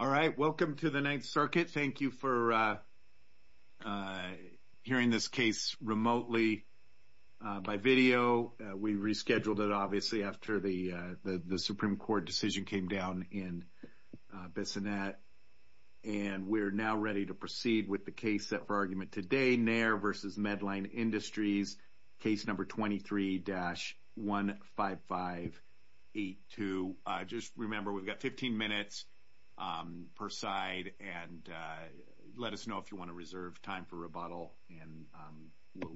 Alright, welcome to the Ninth Circuit. Thank you for hearing this case remotely by video. We rescheduled it obviously after the Supreme Court decision came down in Bissonnette. And we're now ready to proceed with the case set for argument today, Nair v. Medline Industries, case number 23-15582. Just remember we've got 15 minutes. Per side and let us know if you want to reserve time for rebuttal. And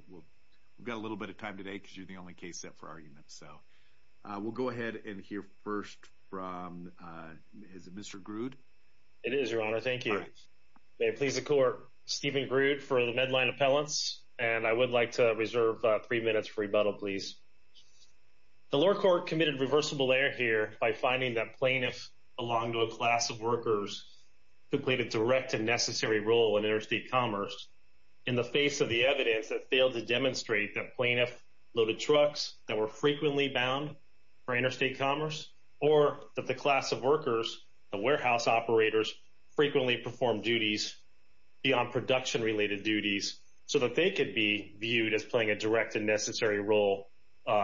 we've got a little bit of time today because you're the only case set for argument. So we'll go ahead and hear first from Mr. Grood. Stephen Grood v. Medline Industries, LP It is your honor. Thank you. May it please the court, Stephen Grood for the Medline Appellants. And I would like to reserve three minutes for rebuttal, please. The lower court committed reversible error here by finding that plaintiff belonged to a class of workers who played a direct and necessary role in interstate commerce in the face of the evidence that failed to demonstrate that plaintiff loaded trucks that were frequently bound for interstate commerce, or that the class of workers, the warehouse operators, frequently performed duties beyond production-related duties so that they could be viewed as playing a direct and necessary role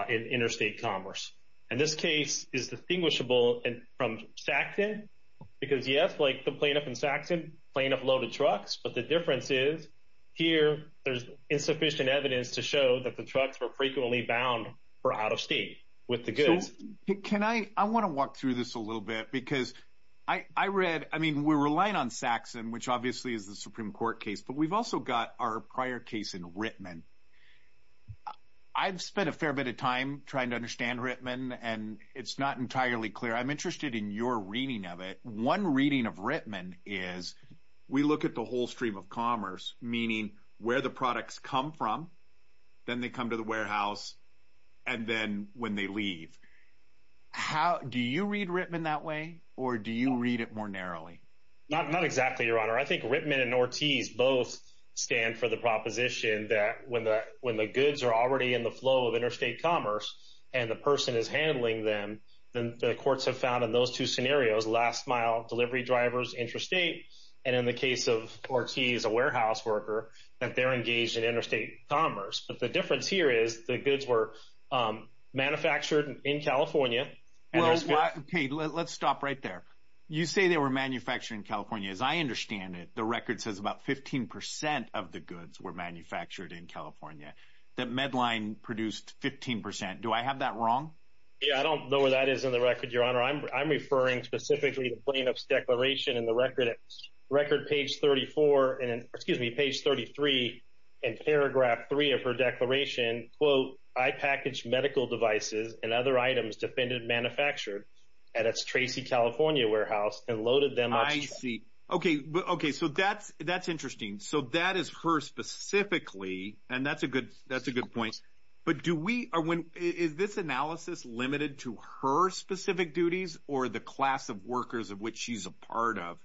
in interstate commerce. And this case is distinguishable from Saxon because, yes, like the plaintiff in Saxon, plaintiff loaded trucks, but the difference is here there's insufficient evidence to show that the trucks were frequently bound for out of state with the goods. Can I, I want to walk through this a little bit because I read, I mean, we're relying on Saxon, which obviously is the Supreme Court case, but we've also got our prior case in Rittman. I've spent a fair bit of time trying to understand Rittman, and it's not entirely clear. I'm interested in your reading of it. One reading of Rittman is we look at the whole stream of commerce, meaning where the products come from, then they come to the warehouse, and then when they leave. How, do you read Rittman that way, or do you read it more narrowly? Not, not exactly, Your Honor. I think Rittman and Ortiz both stand for the proposition that when the goods are already in the flow of interstate commerce and the person is handling them, then the courts have found in those two scenarios, last mile delivery drivers, interstate, and in the case of Ortiz, a warehouse worker, that they're engaged in interstate commerce, but the difference here is the goods were manufactured in California. Okay, let's stop right there. You say they were manufactured in California. As I understand it, the record says about 15 percent of the goods were manufactured in California. That Medline produced 15 percent. Do I have that wrong? Yeah, I don't know where that is in the record, Your Honor. I'm referring specifically to Planoff's declaration in the record, at record page 34, and, excuse me, page 33, in paragraph three of her declaration, quote, I packaged medical devices and other items defended manufactured at its Tracy, California warehouse and loaded them. Okay, so that's interesting. So that is her specifically, and that's a good point, but is this analysis limited to her specific duties or the class of workers of which she's a part of,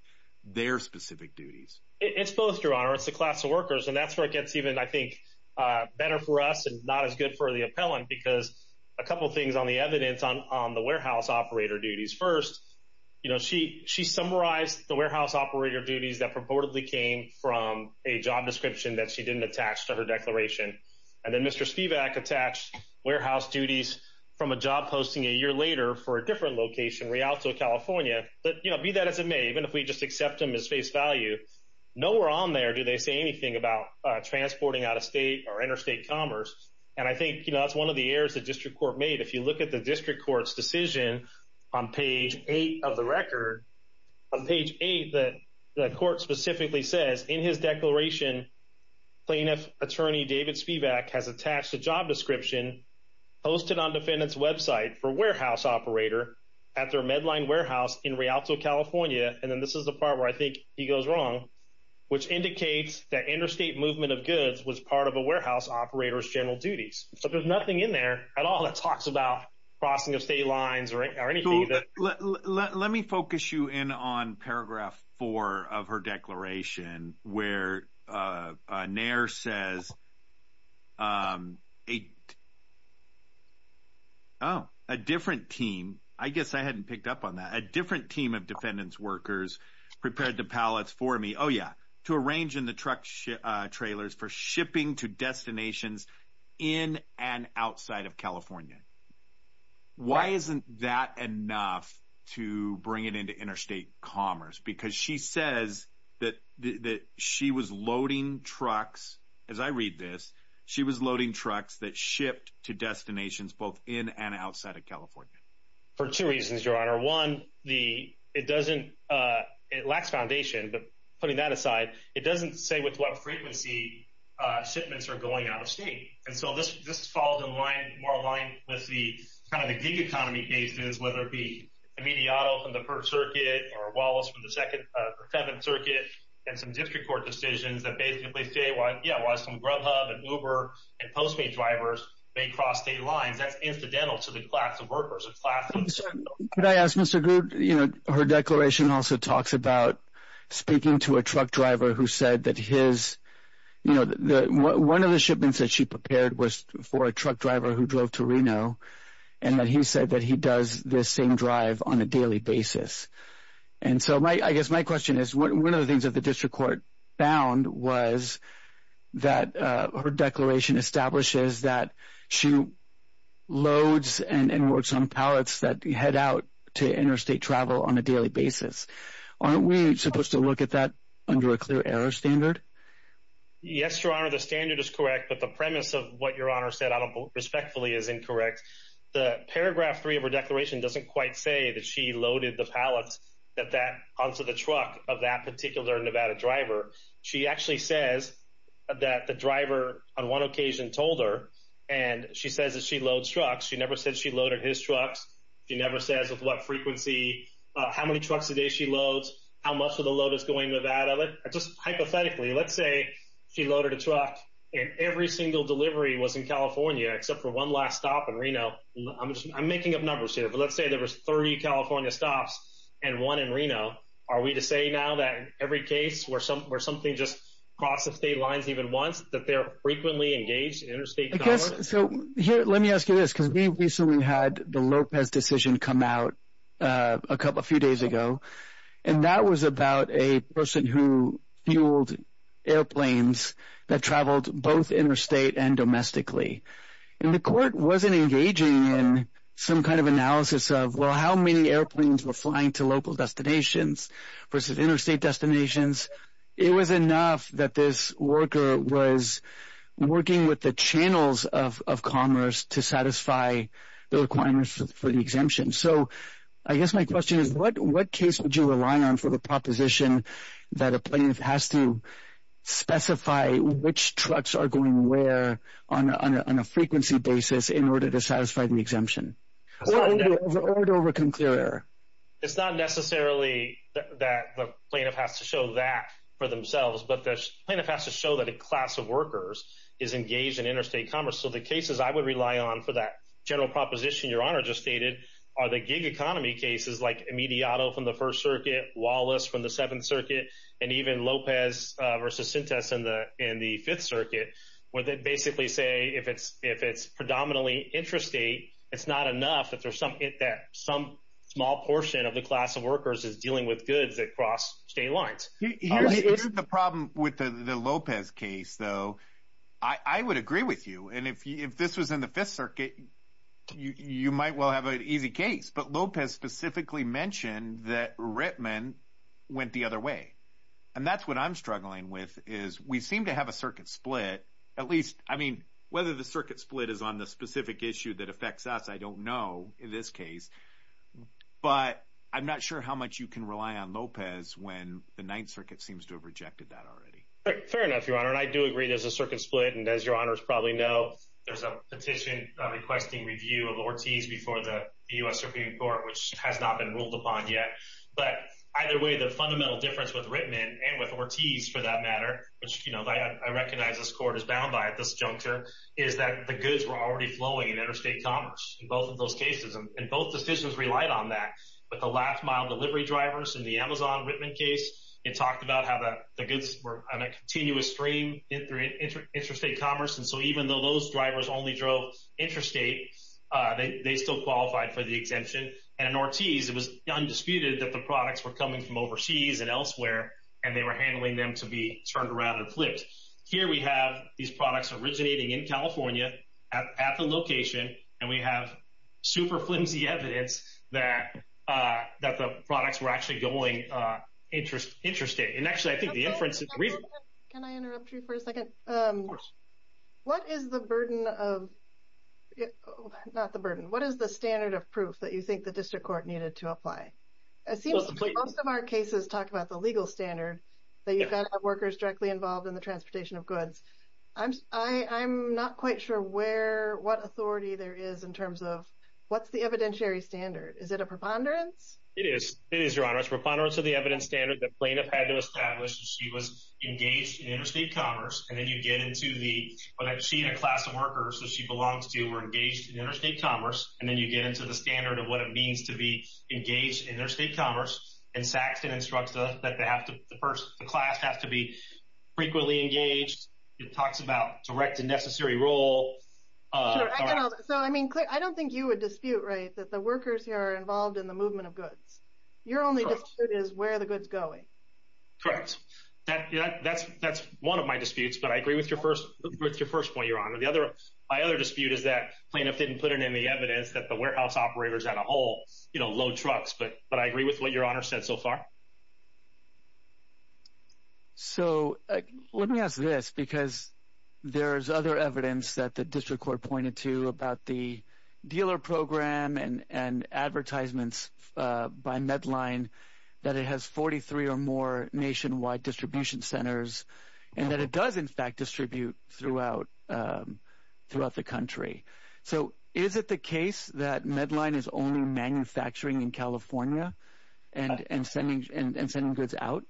their specific duties? It's both, Your Honor. It's the class of workers, and that's where it gets even, I think, better for us and not as good for the appellant because a couple of things on the evidence on the warehouse operator duties. First, she summarized the warehouse operator duties that purportedly came from a job description that she didn't attach to her declaration, and then Mr. Spivak attached warehouse duties from a job posting a year later for a different location, Rialto, California, but be that as it may, even if we just accept them as face value, nowhere on there do they say anything about transporting out of state or interstate commerce, and I think that's one of the errors the district court made. If you look at the district court's decision on page eight of the record, on page eight, the court specifically says in his declaration, plaintiff attorney David Spivak has attached a job description posted on defendant's website for warehouse operator at their Medline Warehouse in Rialto, California, and then this is the part where I think he goes wrong, which indicates that interstate movement of goods was part of operator's general duties, so there's nothing in there at all that talks about crossing of state lines or anything. Let me focus you in on paragraph four of her declaration where Nair says, oh, a different team, I guess I hadn't picked up on that, a different team of defendant's workers prepared the pallets for me, oh yeah, to arrange in the truck trailers for shipping to destinations in and outside of California. Why isn't that enough to bring it into interstate commerce? Because she says that she was loading trucks, as I read this, she was loading trucks that shipped to destinations both in and outside of California. For two reasons, your honor. One, it lacks foundation, but putting that doesn't say with what frequency shipments are going out of state, and so this falls in line, more in line with the gig economy cases, whether it be a Mediato from the Perth Circuit or Wallace from the 7th Circuit, and some district court decisions that basically say, yeah, why some Grubhub and Uber and Postmate drivers may cross state lines, that's incidental to the class of workers. Could I ask, Mr. Grubhub, her declaration also talks about speaking to a truck driver who said that his, one of the shipments that she prepared was for a truck driver who drove to Reno, and that he said that he does this same drive on a daily basis, and so I guess my question is, one of the things that the district court found was that her declaration establishes that she loads and works on pallets that head out to interstate travel on a daily basis. Aren't we supposed to look at that under a clear error standard? Yes, your honor, the standard is correct, but the premise of what your honor said, I don't believe, respectfully, is incorrect. The paragraph three of her declaration doesn't quite say that she loaded the pallets onto the truck of that particular Nevada driver. She actually says that the driver on one occasion told her, and she says that she loads trucks. She never said she loaded his trucks. She never says with what frequency, how many trucks a day how much of the load is going to Nevada. Just hypothetically, let's say she loaded a truck and every single delivery was in California, except for one last stop in Reno. I'm making up numbers here, but let's say there were 30 California stops and one in Reno. Are we to say now that in every case where something just crossed the state lines even once, that they're frequently engaged in interstate travel? Let me ask you this, because we recently had the Lopez decision come out a few days ago, and that was about a person who fueled airplanes that traveled both interstate and domestically. The court wasn't engaging in some kind of analysis of, well, how many airplanes were flying to local destinations versus interstate destinations. It was enough that this worker was working with the channels of commerce to satisfy the requirements for the exemption. So I guess my question is, what case would you rely on for the proposition that a plaintiff has to specify which trucks are going where on a frequency basis in order to satisfy the exemption? Or to over-conclude? It's not necessarily that the plaintiff has to show that for themselves, but the plaintiff has to show that a class of workers is engaged in interstate commerce. So the cases I would rely on for that general proposition Your Honor just stated are the gig economy cases like Imediato from the First Circuit, Wallace from the Seventh Circuit, and even Lopez versus Sintas in the Fifth Circuit, where they basically say if it's predominantly interstate, it's not enough if there's something that some small portion of the class of workers is dealing with goods that cross state lines. Here's the problem with the Lopez case, though. I would agree with you, and if this was in the Fifth Circuit, you might well have an easy case. But Lopez specifically mentioned that Rittman went the other way. And that's what I'm struggling with, is we seem to have a circuit split. At least, I mean, whether the circuit split is on the specific issue that affects us, I don't know in this case. But I'm not sure how much you can rely on Lopez when the Ninth Circuit seems to have rejected that already. Fair enough, Your Honor. And I do agree there's a circuit split. And as Your Honors probably know, there's a petition requesting review of Ortiz before the U.S. Supreme Court, which has not been ruled upon yet. But either way, the fundamental difference with Rittman and with Ortiz, for that matter, which, you know, I recognize this court is bound by at this juncture, is that the goods were already flowing in interstate commerce in both of those cases. And both decisions relied on that. But the last mile delivery drivers in the Amazon Rittman case, it talked about how the goods were on a continuous stream in interstate commerce. And so even though those drivers only drove interstate, they still qualified for the exemption. And in Ortiz, it was undisputed that the products were coming from overseas and elsewhere, and they were handling them to be turned around and flipped. Here we have these products originating in California at the location, and we have super flimsy evidence that the products were actually going interstate. And actually, I think the inference is reasonable. Can I interrupt you for a second? Of course. What is the burden of, not the burden, what is the standard of proof that you think the district court needed to apply? It seems like most of our cases talk about the legal standard that you've got to have workers directly involved in the transportation of goods. I'm not quite sure what authority there is in terms of what's the evidentiary standard. Is it a preponderance? It is. It is, Your Honor. It's preponderance of the evidence standard that plaintiff had to establish that she was engaged in interstate commerce. And then you get into the, well, that she and her class of workers that she belongs to were engaged in interstate commerce. And then you get into the standard of what it means to be engaged in interstate commerce. And Saxton instructs that the class has to be frequently engaged. It talks about direct and necessary role. So, I mean, I don't think you would dispute, right, that the workers here are involved in the movement of goods. Your only dispute is where the goods going. Correct. That's one of my disputes, but I agree with your first point, Your Honor. My other dispute is that plaintiff didn't put in any evidence that the warehouse operators had a whole, you know, load trucks. But I agree with what Your Honor said so far. So, let me ask this, because there's other evidence that the district court pointed to about the dealer program and advertisements by Medline that it has 43 or more nationwide distribution centers and that it does, in fact, distribute throughout the country. So, is it the case that Medline is only manufacturing in California and sending goods out?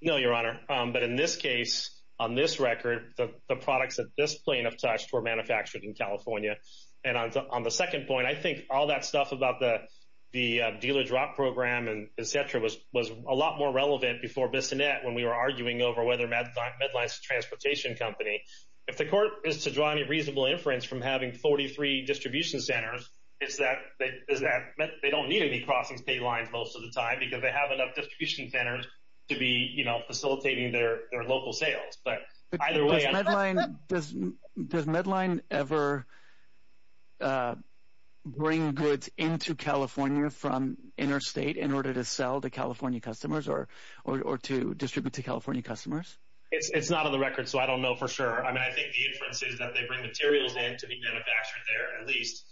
No, Your Honor. But in this case, on this record, the products that this plaintiff touched were manufactured in California. And on the second point, I think all that stuff about the dealer drop program and et cetera was a lot more relevant before Bissonnette, when we were arguing over whether Medline is a transportation company. If the court is to draw any reasonable inference from having 43 distribution centers, it's that they don't need any crossings paid lines most of the time because they have enough distribution centers to be, you know, facilitating their local sales. But does Medline ever bring goods into California from interstate in order to sell to California customers or to distribute to California customers? It's not on the record, so I don't know for sure. I mean, I think the inference is that they bring materials in to be manufactured there at least.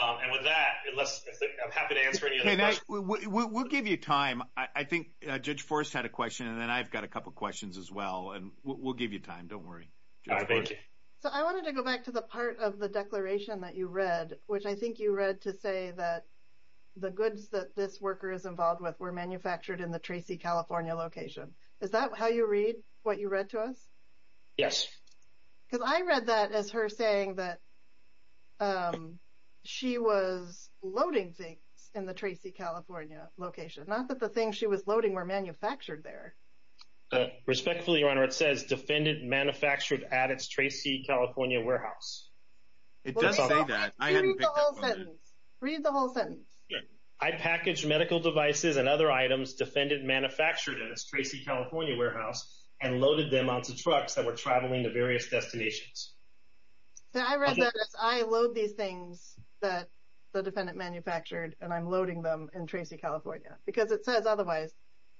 And with that, I'm happy to answer any other questions. We'll give you time. I think Judge Forrest had a question, and then I've got a couple of questions as well. And we'll give you time. Don't worry. So, I wanted to go back to the part of the declaration that you read, which I think you read to say that the goods that this worker is involved with were manufactured in the Tracy, California location. Is that how you read? What you read to us? Yes. Because I read that as her saying that she was loading things in the Tracy, California location, not that the things she was loading were manufactured there. Respectfully, Your Honor, it says defended, manufactured at its Tracy, California warehouse. It does say that. Read the whole sentence. Read the whole sentence. I package medical devices and other items defended, manufactured at its Tracy, California warehouse, and loaded them onto trucks that were traveling to various destinations. So, I read that as I load these things that the defendant manufactured, and I'm loading them in Tracy, California, because it says otherwise.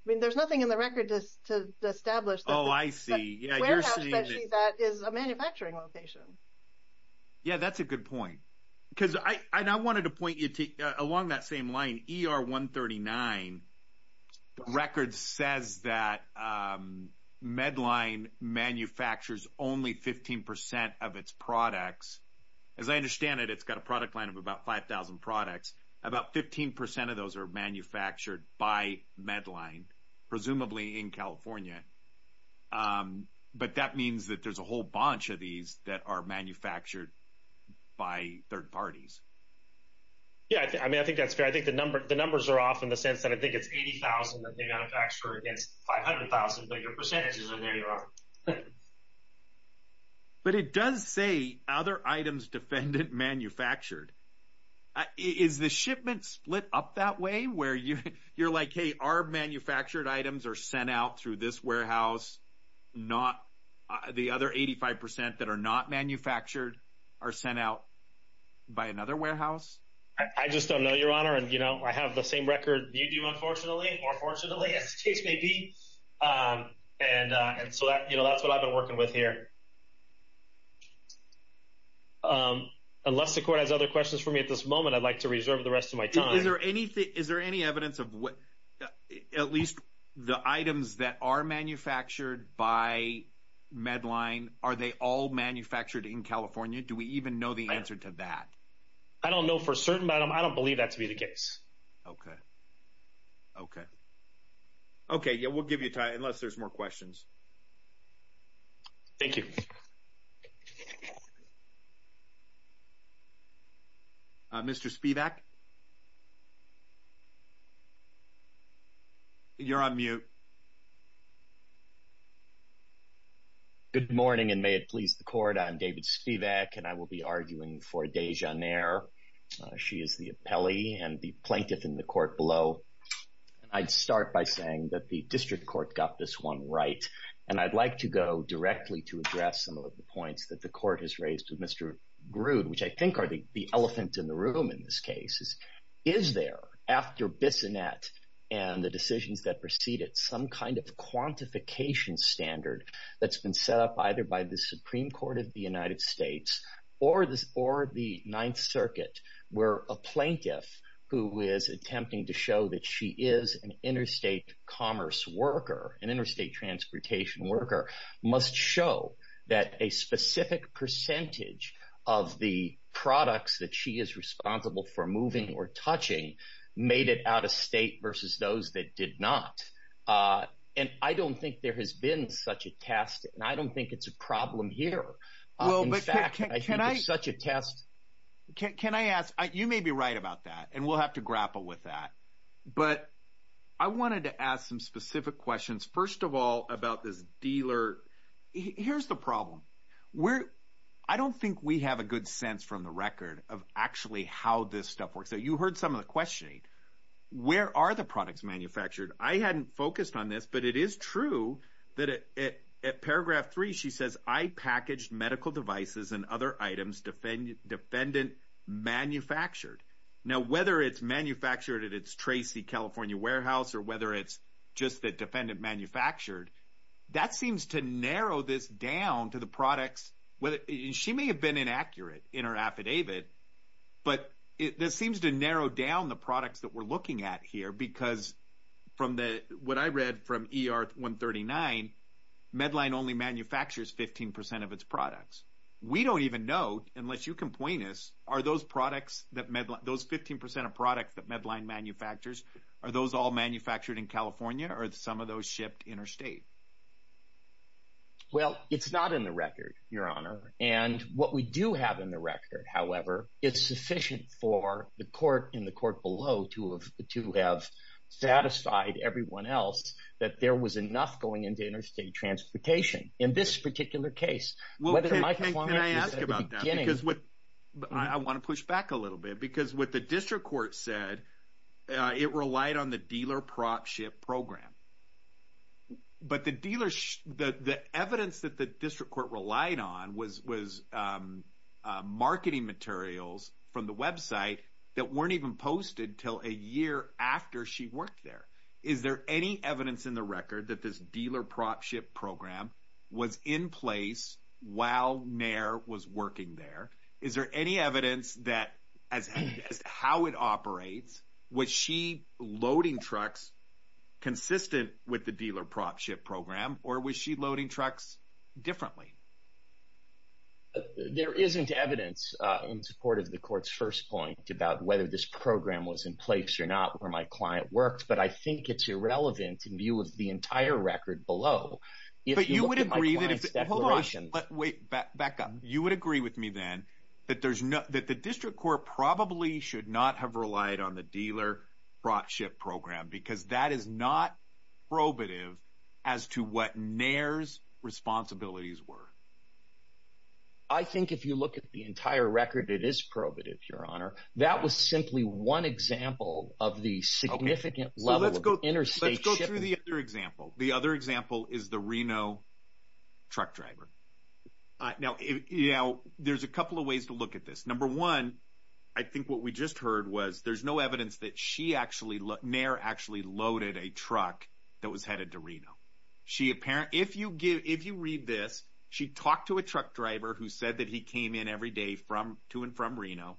I mean, there's nothing in the record to establish that warehouse, especially that, is a manufacturing location. Yeah, that's a good point. Because I wanted to point you to, along that same line, ER-139 the record says that Medline manufactures only 15 percent of its products. As I understand it, it's got a product line of about 5,000 products. About 15 percent of those are manufactured by Medline, presumably in California. But that means that there's a whole bunch of these that are manufactured by third parties. Yeah, I mean, I think that's fair. The numbers are off in the sense that I think it's 80,000 that they manufacture against 500,000, but your percentages are there, Your Honor. But it does say other items defendant manufactured. Is the shipment split up that way? Where you're like, hey, our manufactured items are sent out through this warehouse, not the other 85 percent that are not manufactured are sent out by another warehouse? I just don't know, Your Honor. And I have the same record you do, unfortunately, or fortunately, as the case may be. And so that's what I've been working with here. Unless the court has other questions for me at this moment, I'd like to reserve the rest of my time. Is there any evidence of what, at least the items that are manufactured by Medline, are they all manufactured in California? Do we even know the answer to that? I don't know for certain, but I don't believe that to be the case. Okay. Okay. Okay. Yeah, we'll give you time, unless there's more questions. Thank you. Mr. Spivak. You're on mute. Good morning, and may it please the court. I'm David Spivak, and I will be arguing for Dejanair. She is the appellee and the plaintiff in the court below. I'd start by saying that the district court got this one right, and I'd like to go directly to address some of the points that the court has raised with Mr. Grood, which I think are the elephant in the room in this case. Is there, after Bissonette and the decisions that preceded, some kind of quantification standard that's been set up either by the Supreme Court of the United States or the Ninth Circuit, where a plaintiff who is attempting to show that she is an interstate commerce worker, an interstate transportation worker, must show that a specific percentage of the products that she is responsible for moving or touching made it out of state versus those that did not? I don't think there has been such a test, and I don't think it's a problem here. In fact, I think it's such a test. Can I ask, you may be right about that, and we'll have to grapple with that, but I wanted to ask some specific questions, first of all, about this dealer. Here's the problem. I don't think we have a good sense from the record of actually how this stuff works. You heard some of the questioning. Where are the products manufactured? I hadn't medical devices and other items defendant-manufactured. Now, whether it's manufactured at its Tracy, California warehouse or whether it's just the defendant-manufactured, that seems to narrow this down to the products. She may have been inaccurate in her affidavit, but this seems to narrow down the products that we're looking at here, because from what I read from ER 139, Medline only manufactures 15% of its products. We don't even know, unless you can point us, are those 15% of products that Medline manufactures, are those all manufactured in California or are some of those shipped interstate? Well, it's not in the record, Your Honor, and what we do have in the record, however, it's sufficient for the court and the court below to have satisfied everyone else that there was enough going into interstate transportation. In this particular case, whether it might have- Can I ask about that? I want to push back a little bit, because what the district court said, it relied on the dealer prop ship program, but the evidence that the district court relied on was marketing materials from the website that weren't even posted until a year after she worked there. Is there any evidence in the record that this dealer prop ship program was in place while Mayer was working there? Is there any evidence that, as how it operates, was she loading trucks consistent with the dealer prop ship program or was she loading trucks differently? There isn't evidence in support of the court's first point about whether this program was in place or not, where my client worked, but I think it's irrelevant in view of the entire record below. But you would agree that if- Hold on, wait, back up. You would agree with me then that the district court probably should not have relied on the dealer prop ship program, because that is not probative as to what Mayer's responsibilities were. I think if you look at the entire record, it is probative, Your Honor. That was simply one example of the significant level of interstate shipping. Let's go through the other example. The other example is the Reno truck driver. Now, there's a couple of ways to look at this. Number one, I think what we just heard was there's no evidence that Mayer actually loaded a truck that was headed to Reno. If you read this, she talked to a truck driver who said that he came in every day to and from Reno.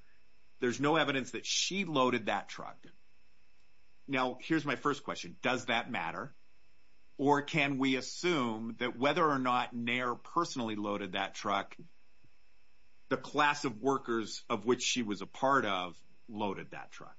There's no evidence that she loaded that truck. Now, here's my first question. Does that matter, or can we assume that whether or not Mayer personally loaded that truck, the class of workers of which she was a part of loaded that truck?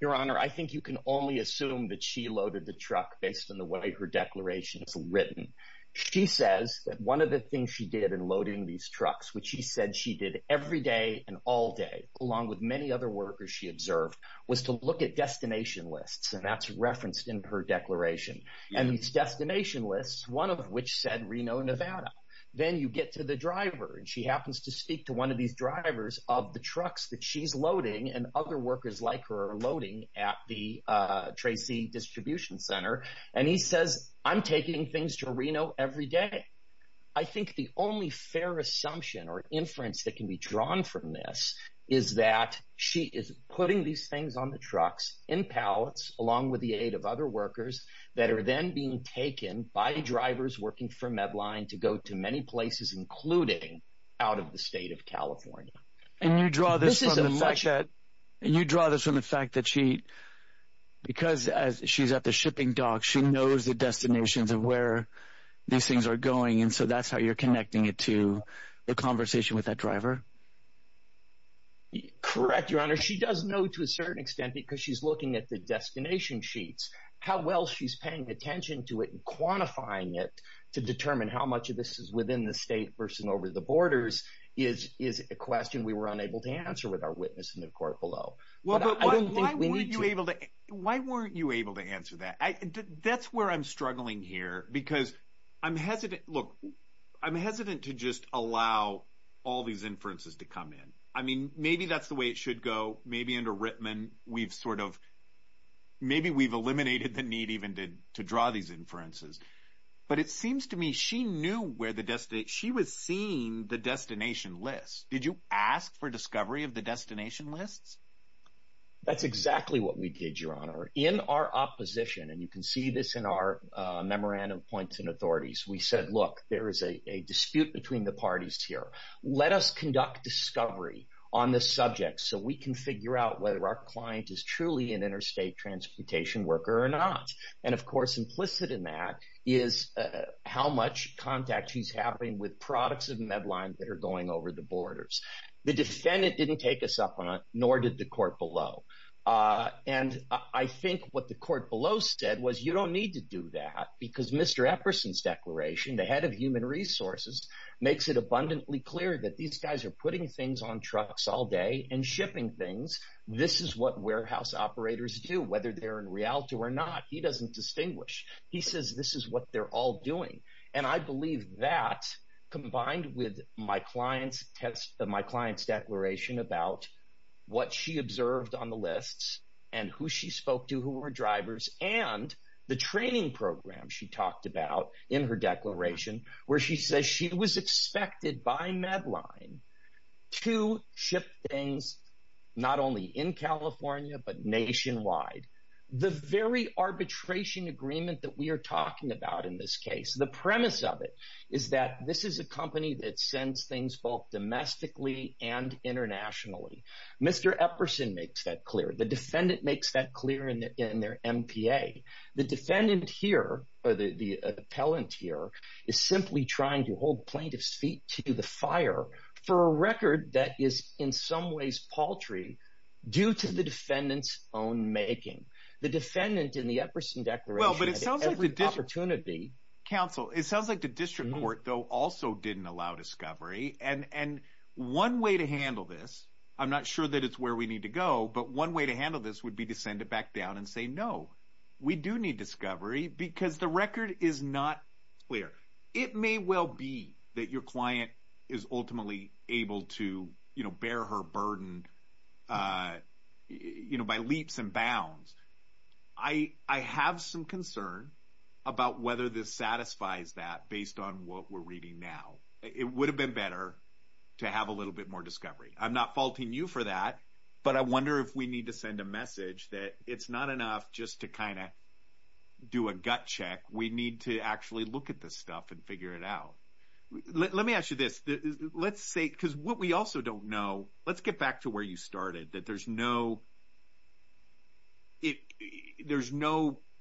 Your Honor, I think you can only assume that she loaded the truck based on the way her declaration is written. She says that one of the things she did in loading these trucks, which she said she did every day and all day, along with many other workers she observed, was to look at destination lists, and that's referenced in her declaration. These destination lists, one of which said Reno, Nevada. Then you get to the driver, and she happens to speak to one of these drivers of the trucks that she's loading and other workers like her are loading at the Tracy Distribution Center, and he says, I'm taking things to Reno every day. I think the only fair assumption or inference that can be drawn from this is that she is putting these things on the trucks in pallets along with the aid of other workers that are then being taken by drivers working for Medline to go to many places, including out of the state of California. And you draw this from the fact that she, because she's at the shipping dock, she knows the destinations of where these things are going, and so that's how you're connecting it to the conversation with that driver? Correct, Your Honor. She does know to a certain extent because she's looking at the destination sheets. How well she's paying attention to it and quantifying it to determine how much of this is within the state versus over the borders is a question we were unable to answer with our witness in the court below. Why weren't you able to answer that? That's where I'm struggling here because I'm hesitant. Look, I'm hesitant to just allow all these inferences to come in. I mean, maybe that's the way it should go. Maybe under Rittman, we've sort of, maybe we've eliminated the need even to draw these inferences. But it seems to me she knew where the destination, she was seeing the destination list. Did you ask for discovery of the destination lists? That's exactly what we did, Your Honor. In our opposition, and you can see this in our memorandum of points and authorities, we said, look, there is a dispute between the parties here. Let us conduct discovery on this subject so we can figure out whether our client is truly an interstate transportation worker or not. And of course, implicit in that is how much contact she's having with products of Medline that are going over the borders. The defendant didn't take us up on it, nor did the court below. And I think what the court below said was you don't need to do that because Mr. Epperson's declaration, the head of human resources, makes it abundantly clear that these guys are putting things on trucks all day and shipping things. This is what warehouse operators do, whether they're in Rialto or not. He doesn't distinguish. He says, this is what they're all doing. And I believe that, combined with my client's declaration about what she observed on the lists and who she spoke to, who were drivers, and the training program she talked about in her declaration, where she says she was expected by Medline to ship things not only in California, but nationwide. The very arbitration agreement that we are talking about in this case, the premise of it is that this is a company that sends things both domestically and internationally. Mr. Epperson makes that clear. The defendant makes that clear in their MPA. The defendant here, or the appellant here, is simply trying to hold plaintiff's feet to the fire for a record that is in some ways paltry due to the defendant's own making. The defendant in the Epperson declaration had every opportunity. Counsel, it sounds like the district court, though, also didn't allow discovery. And one way to handle this, I'm not sure that it's where we need to go, but one way to handle this would be to send it back down and say, no, we do need discovery because the record is not clear. It may well be that your client is ultimately able to bear her burden by leaps and bounds. I have some concern about whether this satisfies that based on what we're reading now. It would have been better to have a little bit more discovery. I'm not faulting you for that, but I wonder if we need to send a message that it's not enough just to kind of do a gut check. We need to actually look at this stuff and figure it out. Let me ask you this. Let's say, because what we also don't know, let's get back to where you started, that there's no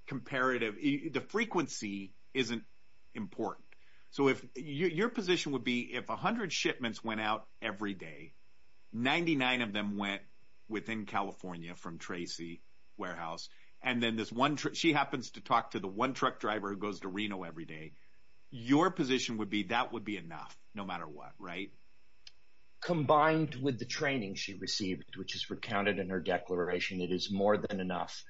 comparative, the frequency isn't important. So if your position would be if 100 shipments went out every day, 99 of them went within California from Tracy Warehouse, and then this one, she happens to talk to the one truck driver who goes to Reno every day, your position would be that would be enough no matter what, right? Combined with the training she received, which is recounted in her declaration, it is more than enough,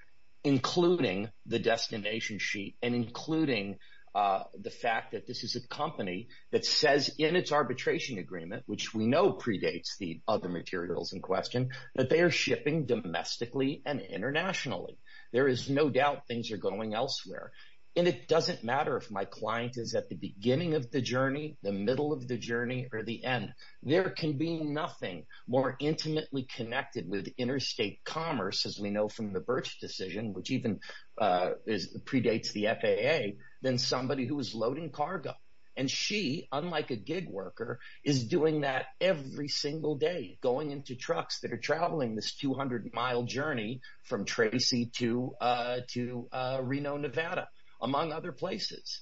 including the destination sheet and including the fact that this is a company that says in its arbitration agreement, which we know predates the other materials in question, that they are shipping domestically and internationally. There is no doubt things are going elsewhere, and it doesn't matter if my client is at the beginning of the journey, the middle of the journey, or the end. There can be nothing more intimately connected with interstate commerce, as we know from the Birch decision, which even predates the FAA, than somebody who is loading cargo. And she, unlike a gig worker, is doing that every single day, going into trucks that are traveling this 200-mile journey from Tracy to Reno, Nevada, among other places.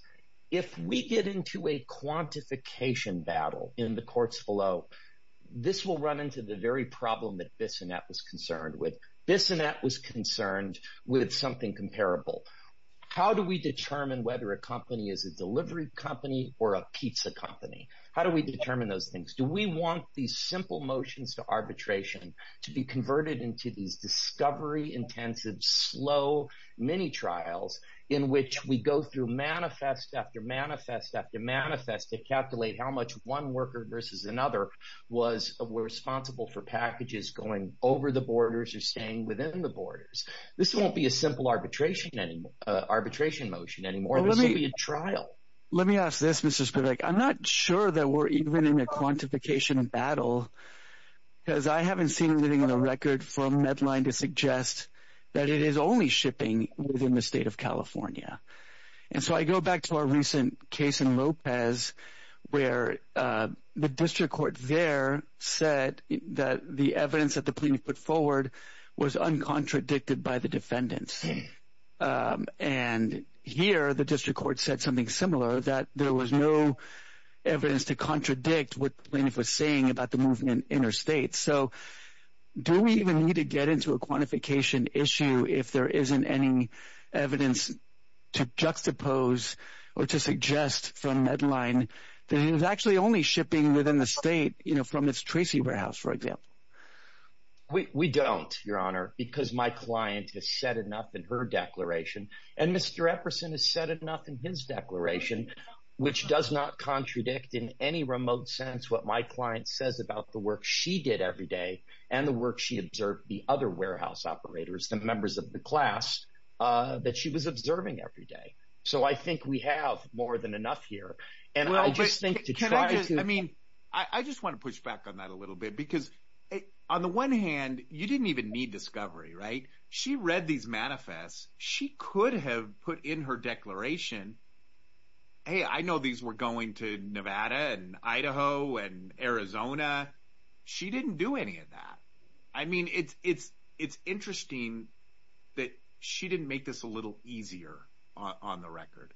If we get into a quantification battle in the courts below, this will run into the very problem that Bissonette was concerned with. Bissonette was concerned with something comparable. How do we determine whether a is a delivery company or a pizza company? How do we determine those things? Do we want these simple motions to arbitration to be converted into these discovery-intensive, slow mini-trials in which we go through manifest after manifest after manifest to calculate how much one worker versus another was responsible for packages going over the borders or staying within the borders? This won't be a simple arbitration motion anymore. Let me ask this, Mr. Spivak. I'm not sure that we're even in a quantification battle, because I haven't seen anything on the record from Medline to suggest that it is only shipping within the state of California. And so I go back to our recent case in Lopez, where the district court there said that the evidence that the similar, that there was no evidence to contradict what the plaintiff was saying about the movement interstate. So do we even need to get into a quantification issue if there isn't any evidence to juxtapose or to suggest from Medline that it was actually only shipping within the state from its Tracy warehouse, for example? We don't, Your Honor, because my client has said enough in her declaration and Mr. Epperson has said enough in his declaration, which does not contradict in any remote sense what my client says about the work she did every day and the work she observed the other warehouse operators, the members of the class that she was observing every day. So I think we have more than enough here. And I just think to try to, I mean, I just want to push back on that a little bit, because on the one hand, you didn't even need discovery, right? She read these manifests. She could have put in her declaration, hey, I know these were going to Nevada and Idaho and Arizona. She didn't do any of that. I mean, it's interesting that she didn't make this a little easier on the record.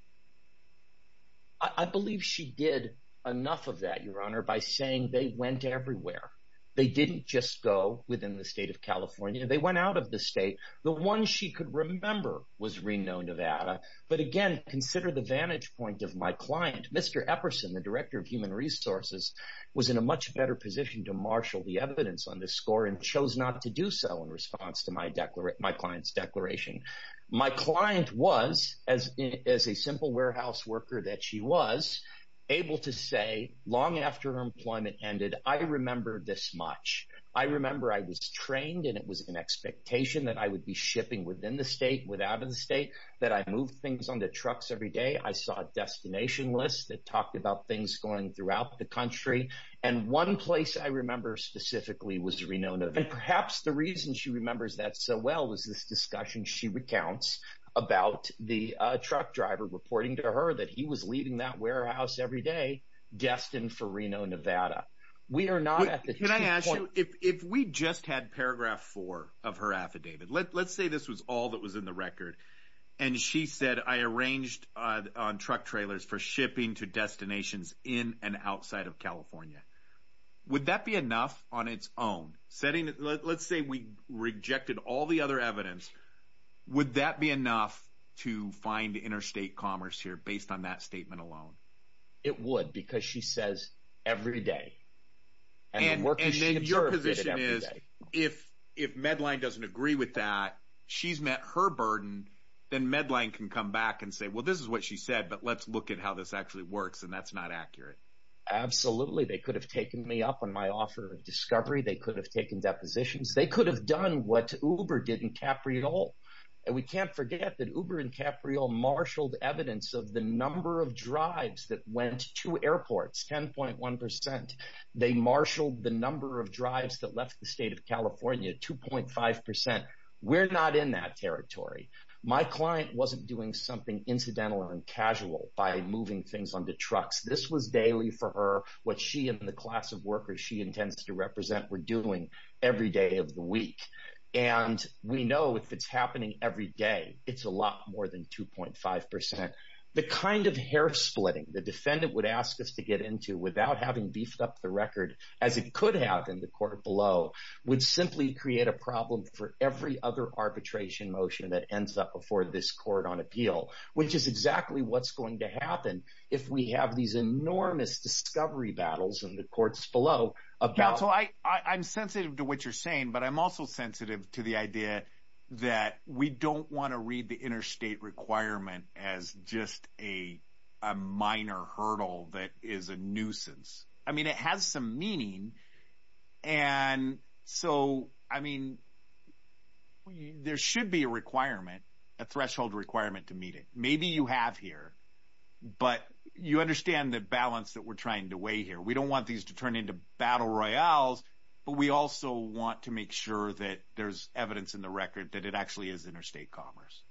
I believe she did enough of that, Your Honor, by saying they went everywhere. They didn't just go within the state of California. They went out of the state. The one she could remember was Reno, Nevada. But again, consider the vantage point of my client. Mr. Epperson, the Director of Human Resources, was in a much better position to marshal the evidence on this score and chose not to do so in response to my client's declaration. My client was, as a simple warehouse worker that she was, able to say long after her employment ended, I remember this much. I remember I was trained and it was an expectation that I would be shipping within the state, without the state, that I move things on the trucks every day. I saw a destination list that talked about things going throughout the country. And one place I remember specifically was Reno, Nevada. And perhaps the reason she remembers that so well was this discussion she recounts about the truck driver reporting to her that he was leaving that warehouse every day destined for Reno, Nevada. Can I ask you, if we just had paragraph four of her affidavit, let's say this was all that was in the record. And she said, I arranged on truck trailers for shipping to destinations in and outside of California. Would that be enough on its own? Let's say we rejected all the other evidence. Would that be enough to find interstate commerce here based on that statement alone? It would, because she says every day. And your position is, if Medline doesn't agree with that, she's met her burden, then Medline can come back and say, well, this is what she said, but let's look at how this actually works. And that's not accurate. Absolutely. They could have taken me up on my offer of discovery. They could have taken depositions. They could have done what Uber did in Capriol. And we can't of the number of drives that went to airports, 10.1%. They marshaled the number of drives that left the state of California, 2.5%. We're not in that territory. My client wasn't doing something incidental and casual by moving things onto trucks. This was daily for her, what she and the class of workers she intends to represent we're doing every day of the week. And we know if it's happening every day, it's a lot more than 2.5%. The kind of hair splitting the defendant would ask us to get into without having beefed up the record as it could have in the court below would simply create a problem for every other arbitration motion that ends up before this court on appeal, which is exactly what's going to happen. If we have these enormous discovery battles in the courts below about, so I I'm sensitive to what you're saying, but I'm also sensitive to the idea that we don't want to read the interstate requirement as just a minor hurdle that is a nuisance. I mean, it has some meaning. And so, I mean, there should be a requirement, a threshold requirement to meet it. Maybe you have here, but you understand the balance that we're trying to weigh here. We don't want these to turn into battle royales, but we also want to make sure that there's evidence in the record that it actually is interstate commerce.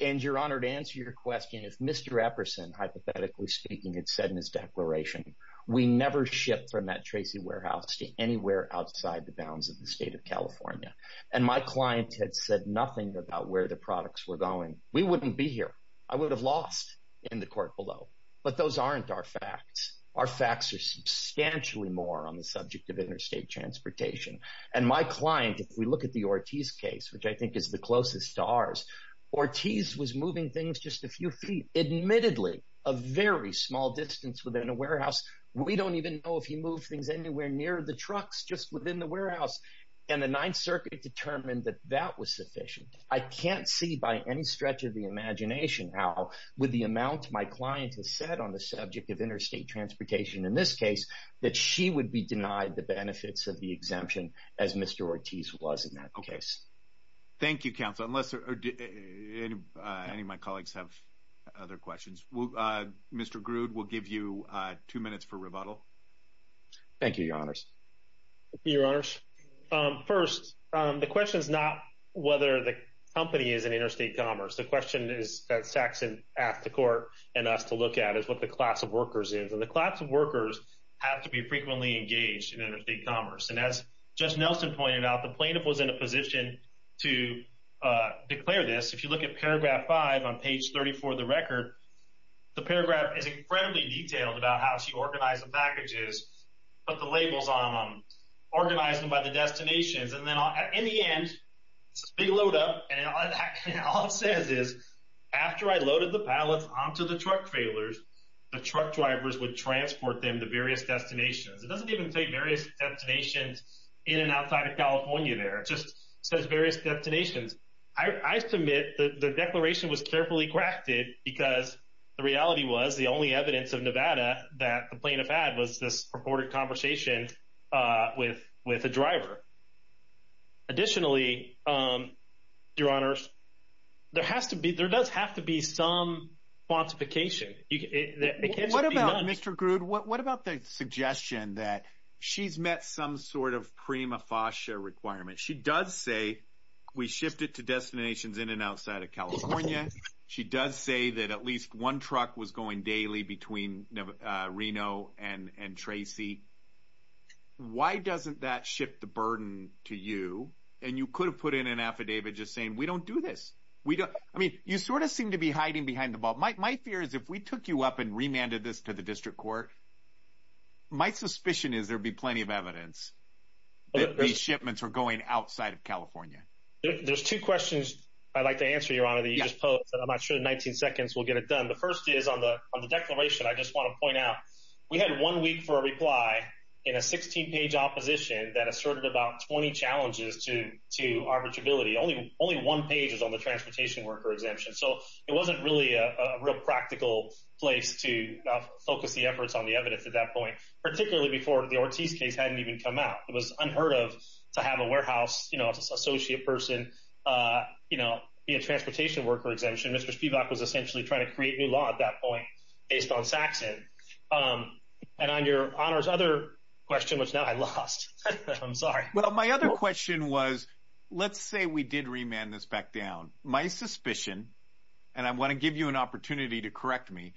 And you're honored to answer your question. If Mr. Epperson, hypothetically speaking, had said in his declaration, we never shipped from that Tracy warehouse to anywhere outside the bounds of the state of California. And my clients had said nothing about where the products were going. We wouldn't be here. I would have lost in the court below. But those aren't our facts. Our facts are substantially more on the subject of interstate transportation. And my client, if we look at the Ortiz case, which I think is the closest to ours, Ortiz was moving things just a few feet, admittedly a very small distance within a warehouse. We don't even know if he moved things anywhere near the trucks just within the warehouse. And the Ninth Circuit determined that that was sufficient. I can't see by any stretch of the imagination how, with the amount my client has said on the subject of interstate transportation in this case, that she would be denied the benefits of the exemption as Mr. Ortiz was in that case. Thank you, Counselor. Unless any of my colleagues have other questions. Mr. Grood, we'll give you two minutes for rebuttal. Thank you, Your Honors. Your Honors. First, the question is not whether the company is in interstate commerce. The question Saxon asked the court and us to look at is what the class of workers is. And the class of workers have to be frequently engaged in interstate commerce. And as Judge Nelson pointed out, the plaintiff was in a position to declare this. If you look at paragraph 5 on page 34 of the record, the paragraph is incredibly detailed about how she organized the packages, put the labels on them, organized them by the destinations. And then in the end, it's a big load up. And all it says is, after I loaded the pallets onto the truck trailers, the truck drivers would transport them to various destinations. It doesn't even say various destinations in and outside of California there. It just says various destinations. I submit the declaration was carefully crafted because the reality was the only evidence of Nevada that the plaintiff had was this purported conversation with a driver. Additionally, Your Honors, there does have to be some quantification. It can't just be none. What about, Mr. Grood, what about the suggestion that she's met some sort of prima facie requirement? She does say we shifted to destinations in and outside of California. She does say that at least one truck was going daily between Reno and Tracy. Why doesn't that shift the burden to you? And you could have put in an affidavit just saying we don't do this. We don't. I mean, you sort of seem to be hiding behind the ball. My fear is if we took you up and remanded this to the district court, my suspicion is there'd be plenty of evidence that these shipments are going outside of California. There's two questions I'd like to answer, Your Honor, that you just posed that I'm not sure in 19 seconds we'll get it done. The first is on the declaration. I just want to point out we had one week for a reply in a 16-page opposition that asserted about 20 challenges to arbitrability. Only one page is on the transportation worker exemption. So it wasn't really a real practical place to focus the efforts on the evidence at that point, particularly before the Ortiz case hadn't even come out. It was unheard of to have a warehouse, you know, associate person, you know, be a transportation worker exemption. Mr. Spivak was essentially trying to create new law at that point based on Saxon. And on Your Honor's other question, which now I lost, I'm sorry. Well, my other question was, let's say we did remand this back down. My suspicion, and I want to give you an opportunity to correct me,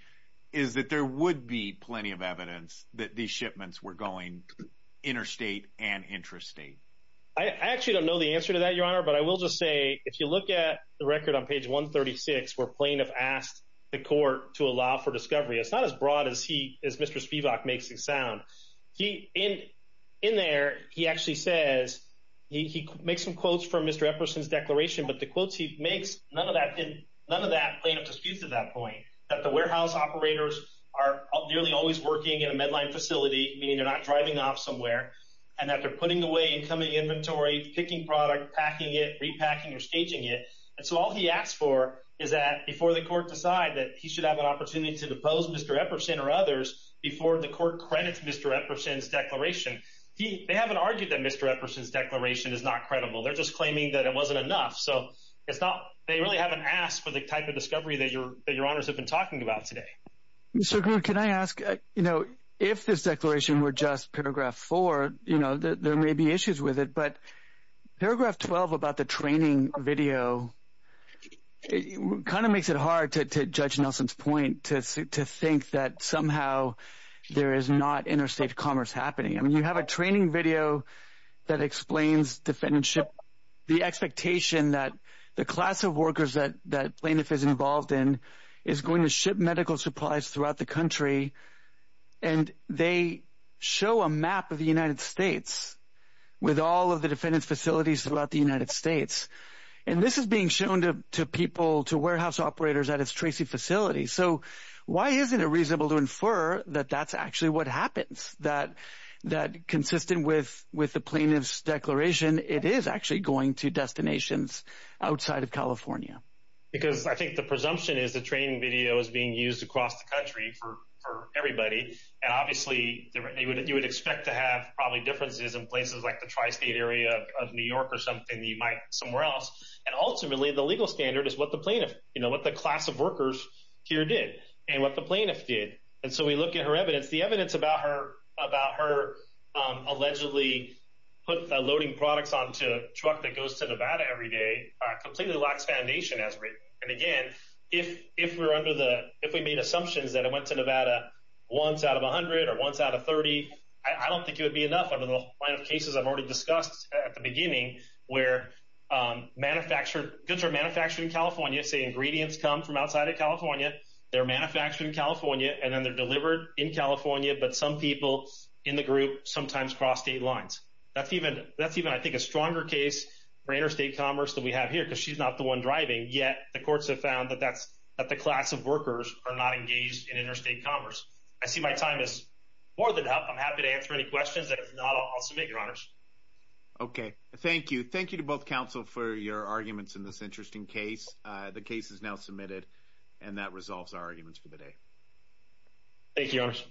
is that there would be plenty of evidence that these shipments were going interstate and intrastate. I actually don't know the answer to that, Your Honor. But I will just say, if you look at the record on page 136, where plaintiff asked the court to allow for discovery, it's not as broad as Mr. Spivak makes it sound. In there, he actually says, he makes some quotes from Mr. Epperson's declaration, but the quotes he makes, none of that plaintiff disputes at that point, that the warehouse operators are nearly always working in a Medline facility, meaning they're not driving off somewhere, and that they're putting away incoming inventory, picking product, packing it, repacking or staging it. And so all he asked for is that before the court decide that he should have an opportunity to depose Mr. Epperson or others before the court credits Mr. Epperson's declaration. They haven't argued that Mr. Epperson's declaration is not credible. They're just claiming that it wasn't enough. So it's not, they really haven't asked for the type of discovery that Your Honors have been talking about today. Mr. Grew, can I ask, you know, if this declaration were just paragraph four, you know, there may be issues with it, but paragraph 12 about the training video kind of makes it hard to judge Nelson's point, to think that somehow there is not interstate commerce happening. I mean, you have a training video that explains defendantship, the expectation that the class of workers that plaintiff is involved in is going to ship medical supplies throughout the country. And they show a map of the United States with all of the defendants' facilities throughout the United States. And this is being shown to people, to warehouse operators at its Tracy facility. So why isn't it reasonable to infer that that's actually what happens, that consistent with the plaintiff's declaration, it is actually going to destinations outside of California? Because I think the presumption is the training video is being used across the country for everybody. And obviously, you would expect to have probably differences in places like the tri-state area of New York or something, you might somewhere else. And ultimately, the legal standard is what the plaintiff, you know, what the class of workers here did and what the plaintiff did. And so we look at her evidence, the evidence about her allegedly put the loading products onto a truck that goes to Nevada every day, completely lacks foundation as written. And again, if we're under the, if we made assumptions that it went to Nevada once out of 100 or once out of 30, I don't think it would be enough under the line of cases I've already discussed at the beginning, where goods are manufactured in California, say ingredients come from outside of California, they're manufactured in California, and then they're delivered in California, but some people in the group sometimes cross state lines. That's even, I think, a stronger case for interstate commerce that we have here because she's not the one driving, yet the courts have found that the class of workers are not engaged in interstate commerce. I see my time is more than up, I'm happy to answer any questions that are not, I'll submit, Your Honors. Okay, thank you. Thank you to both counsel for your arguments in this interesting case. The case is now submitted and that resolves our arguments for the day. Thank you, Your Honors.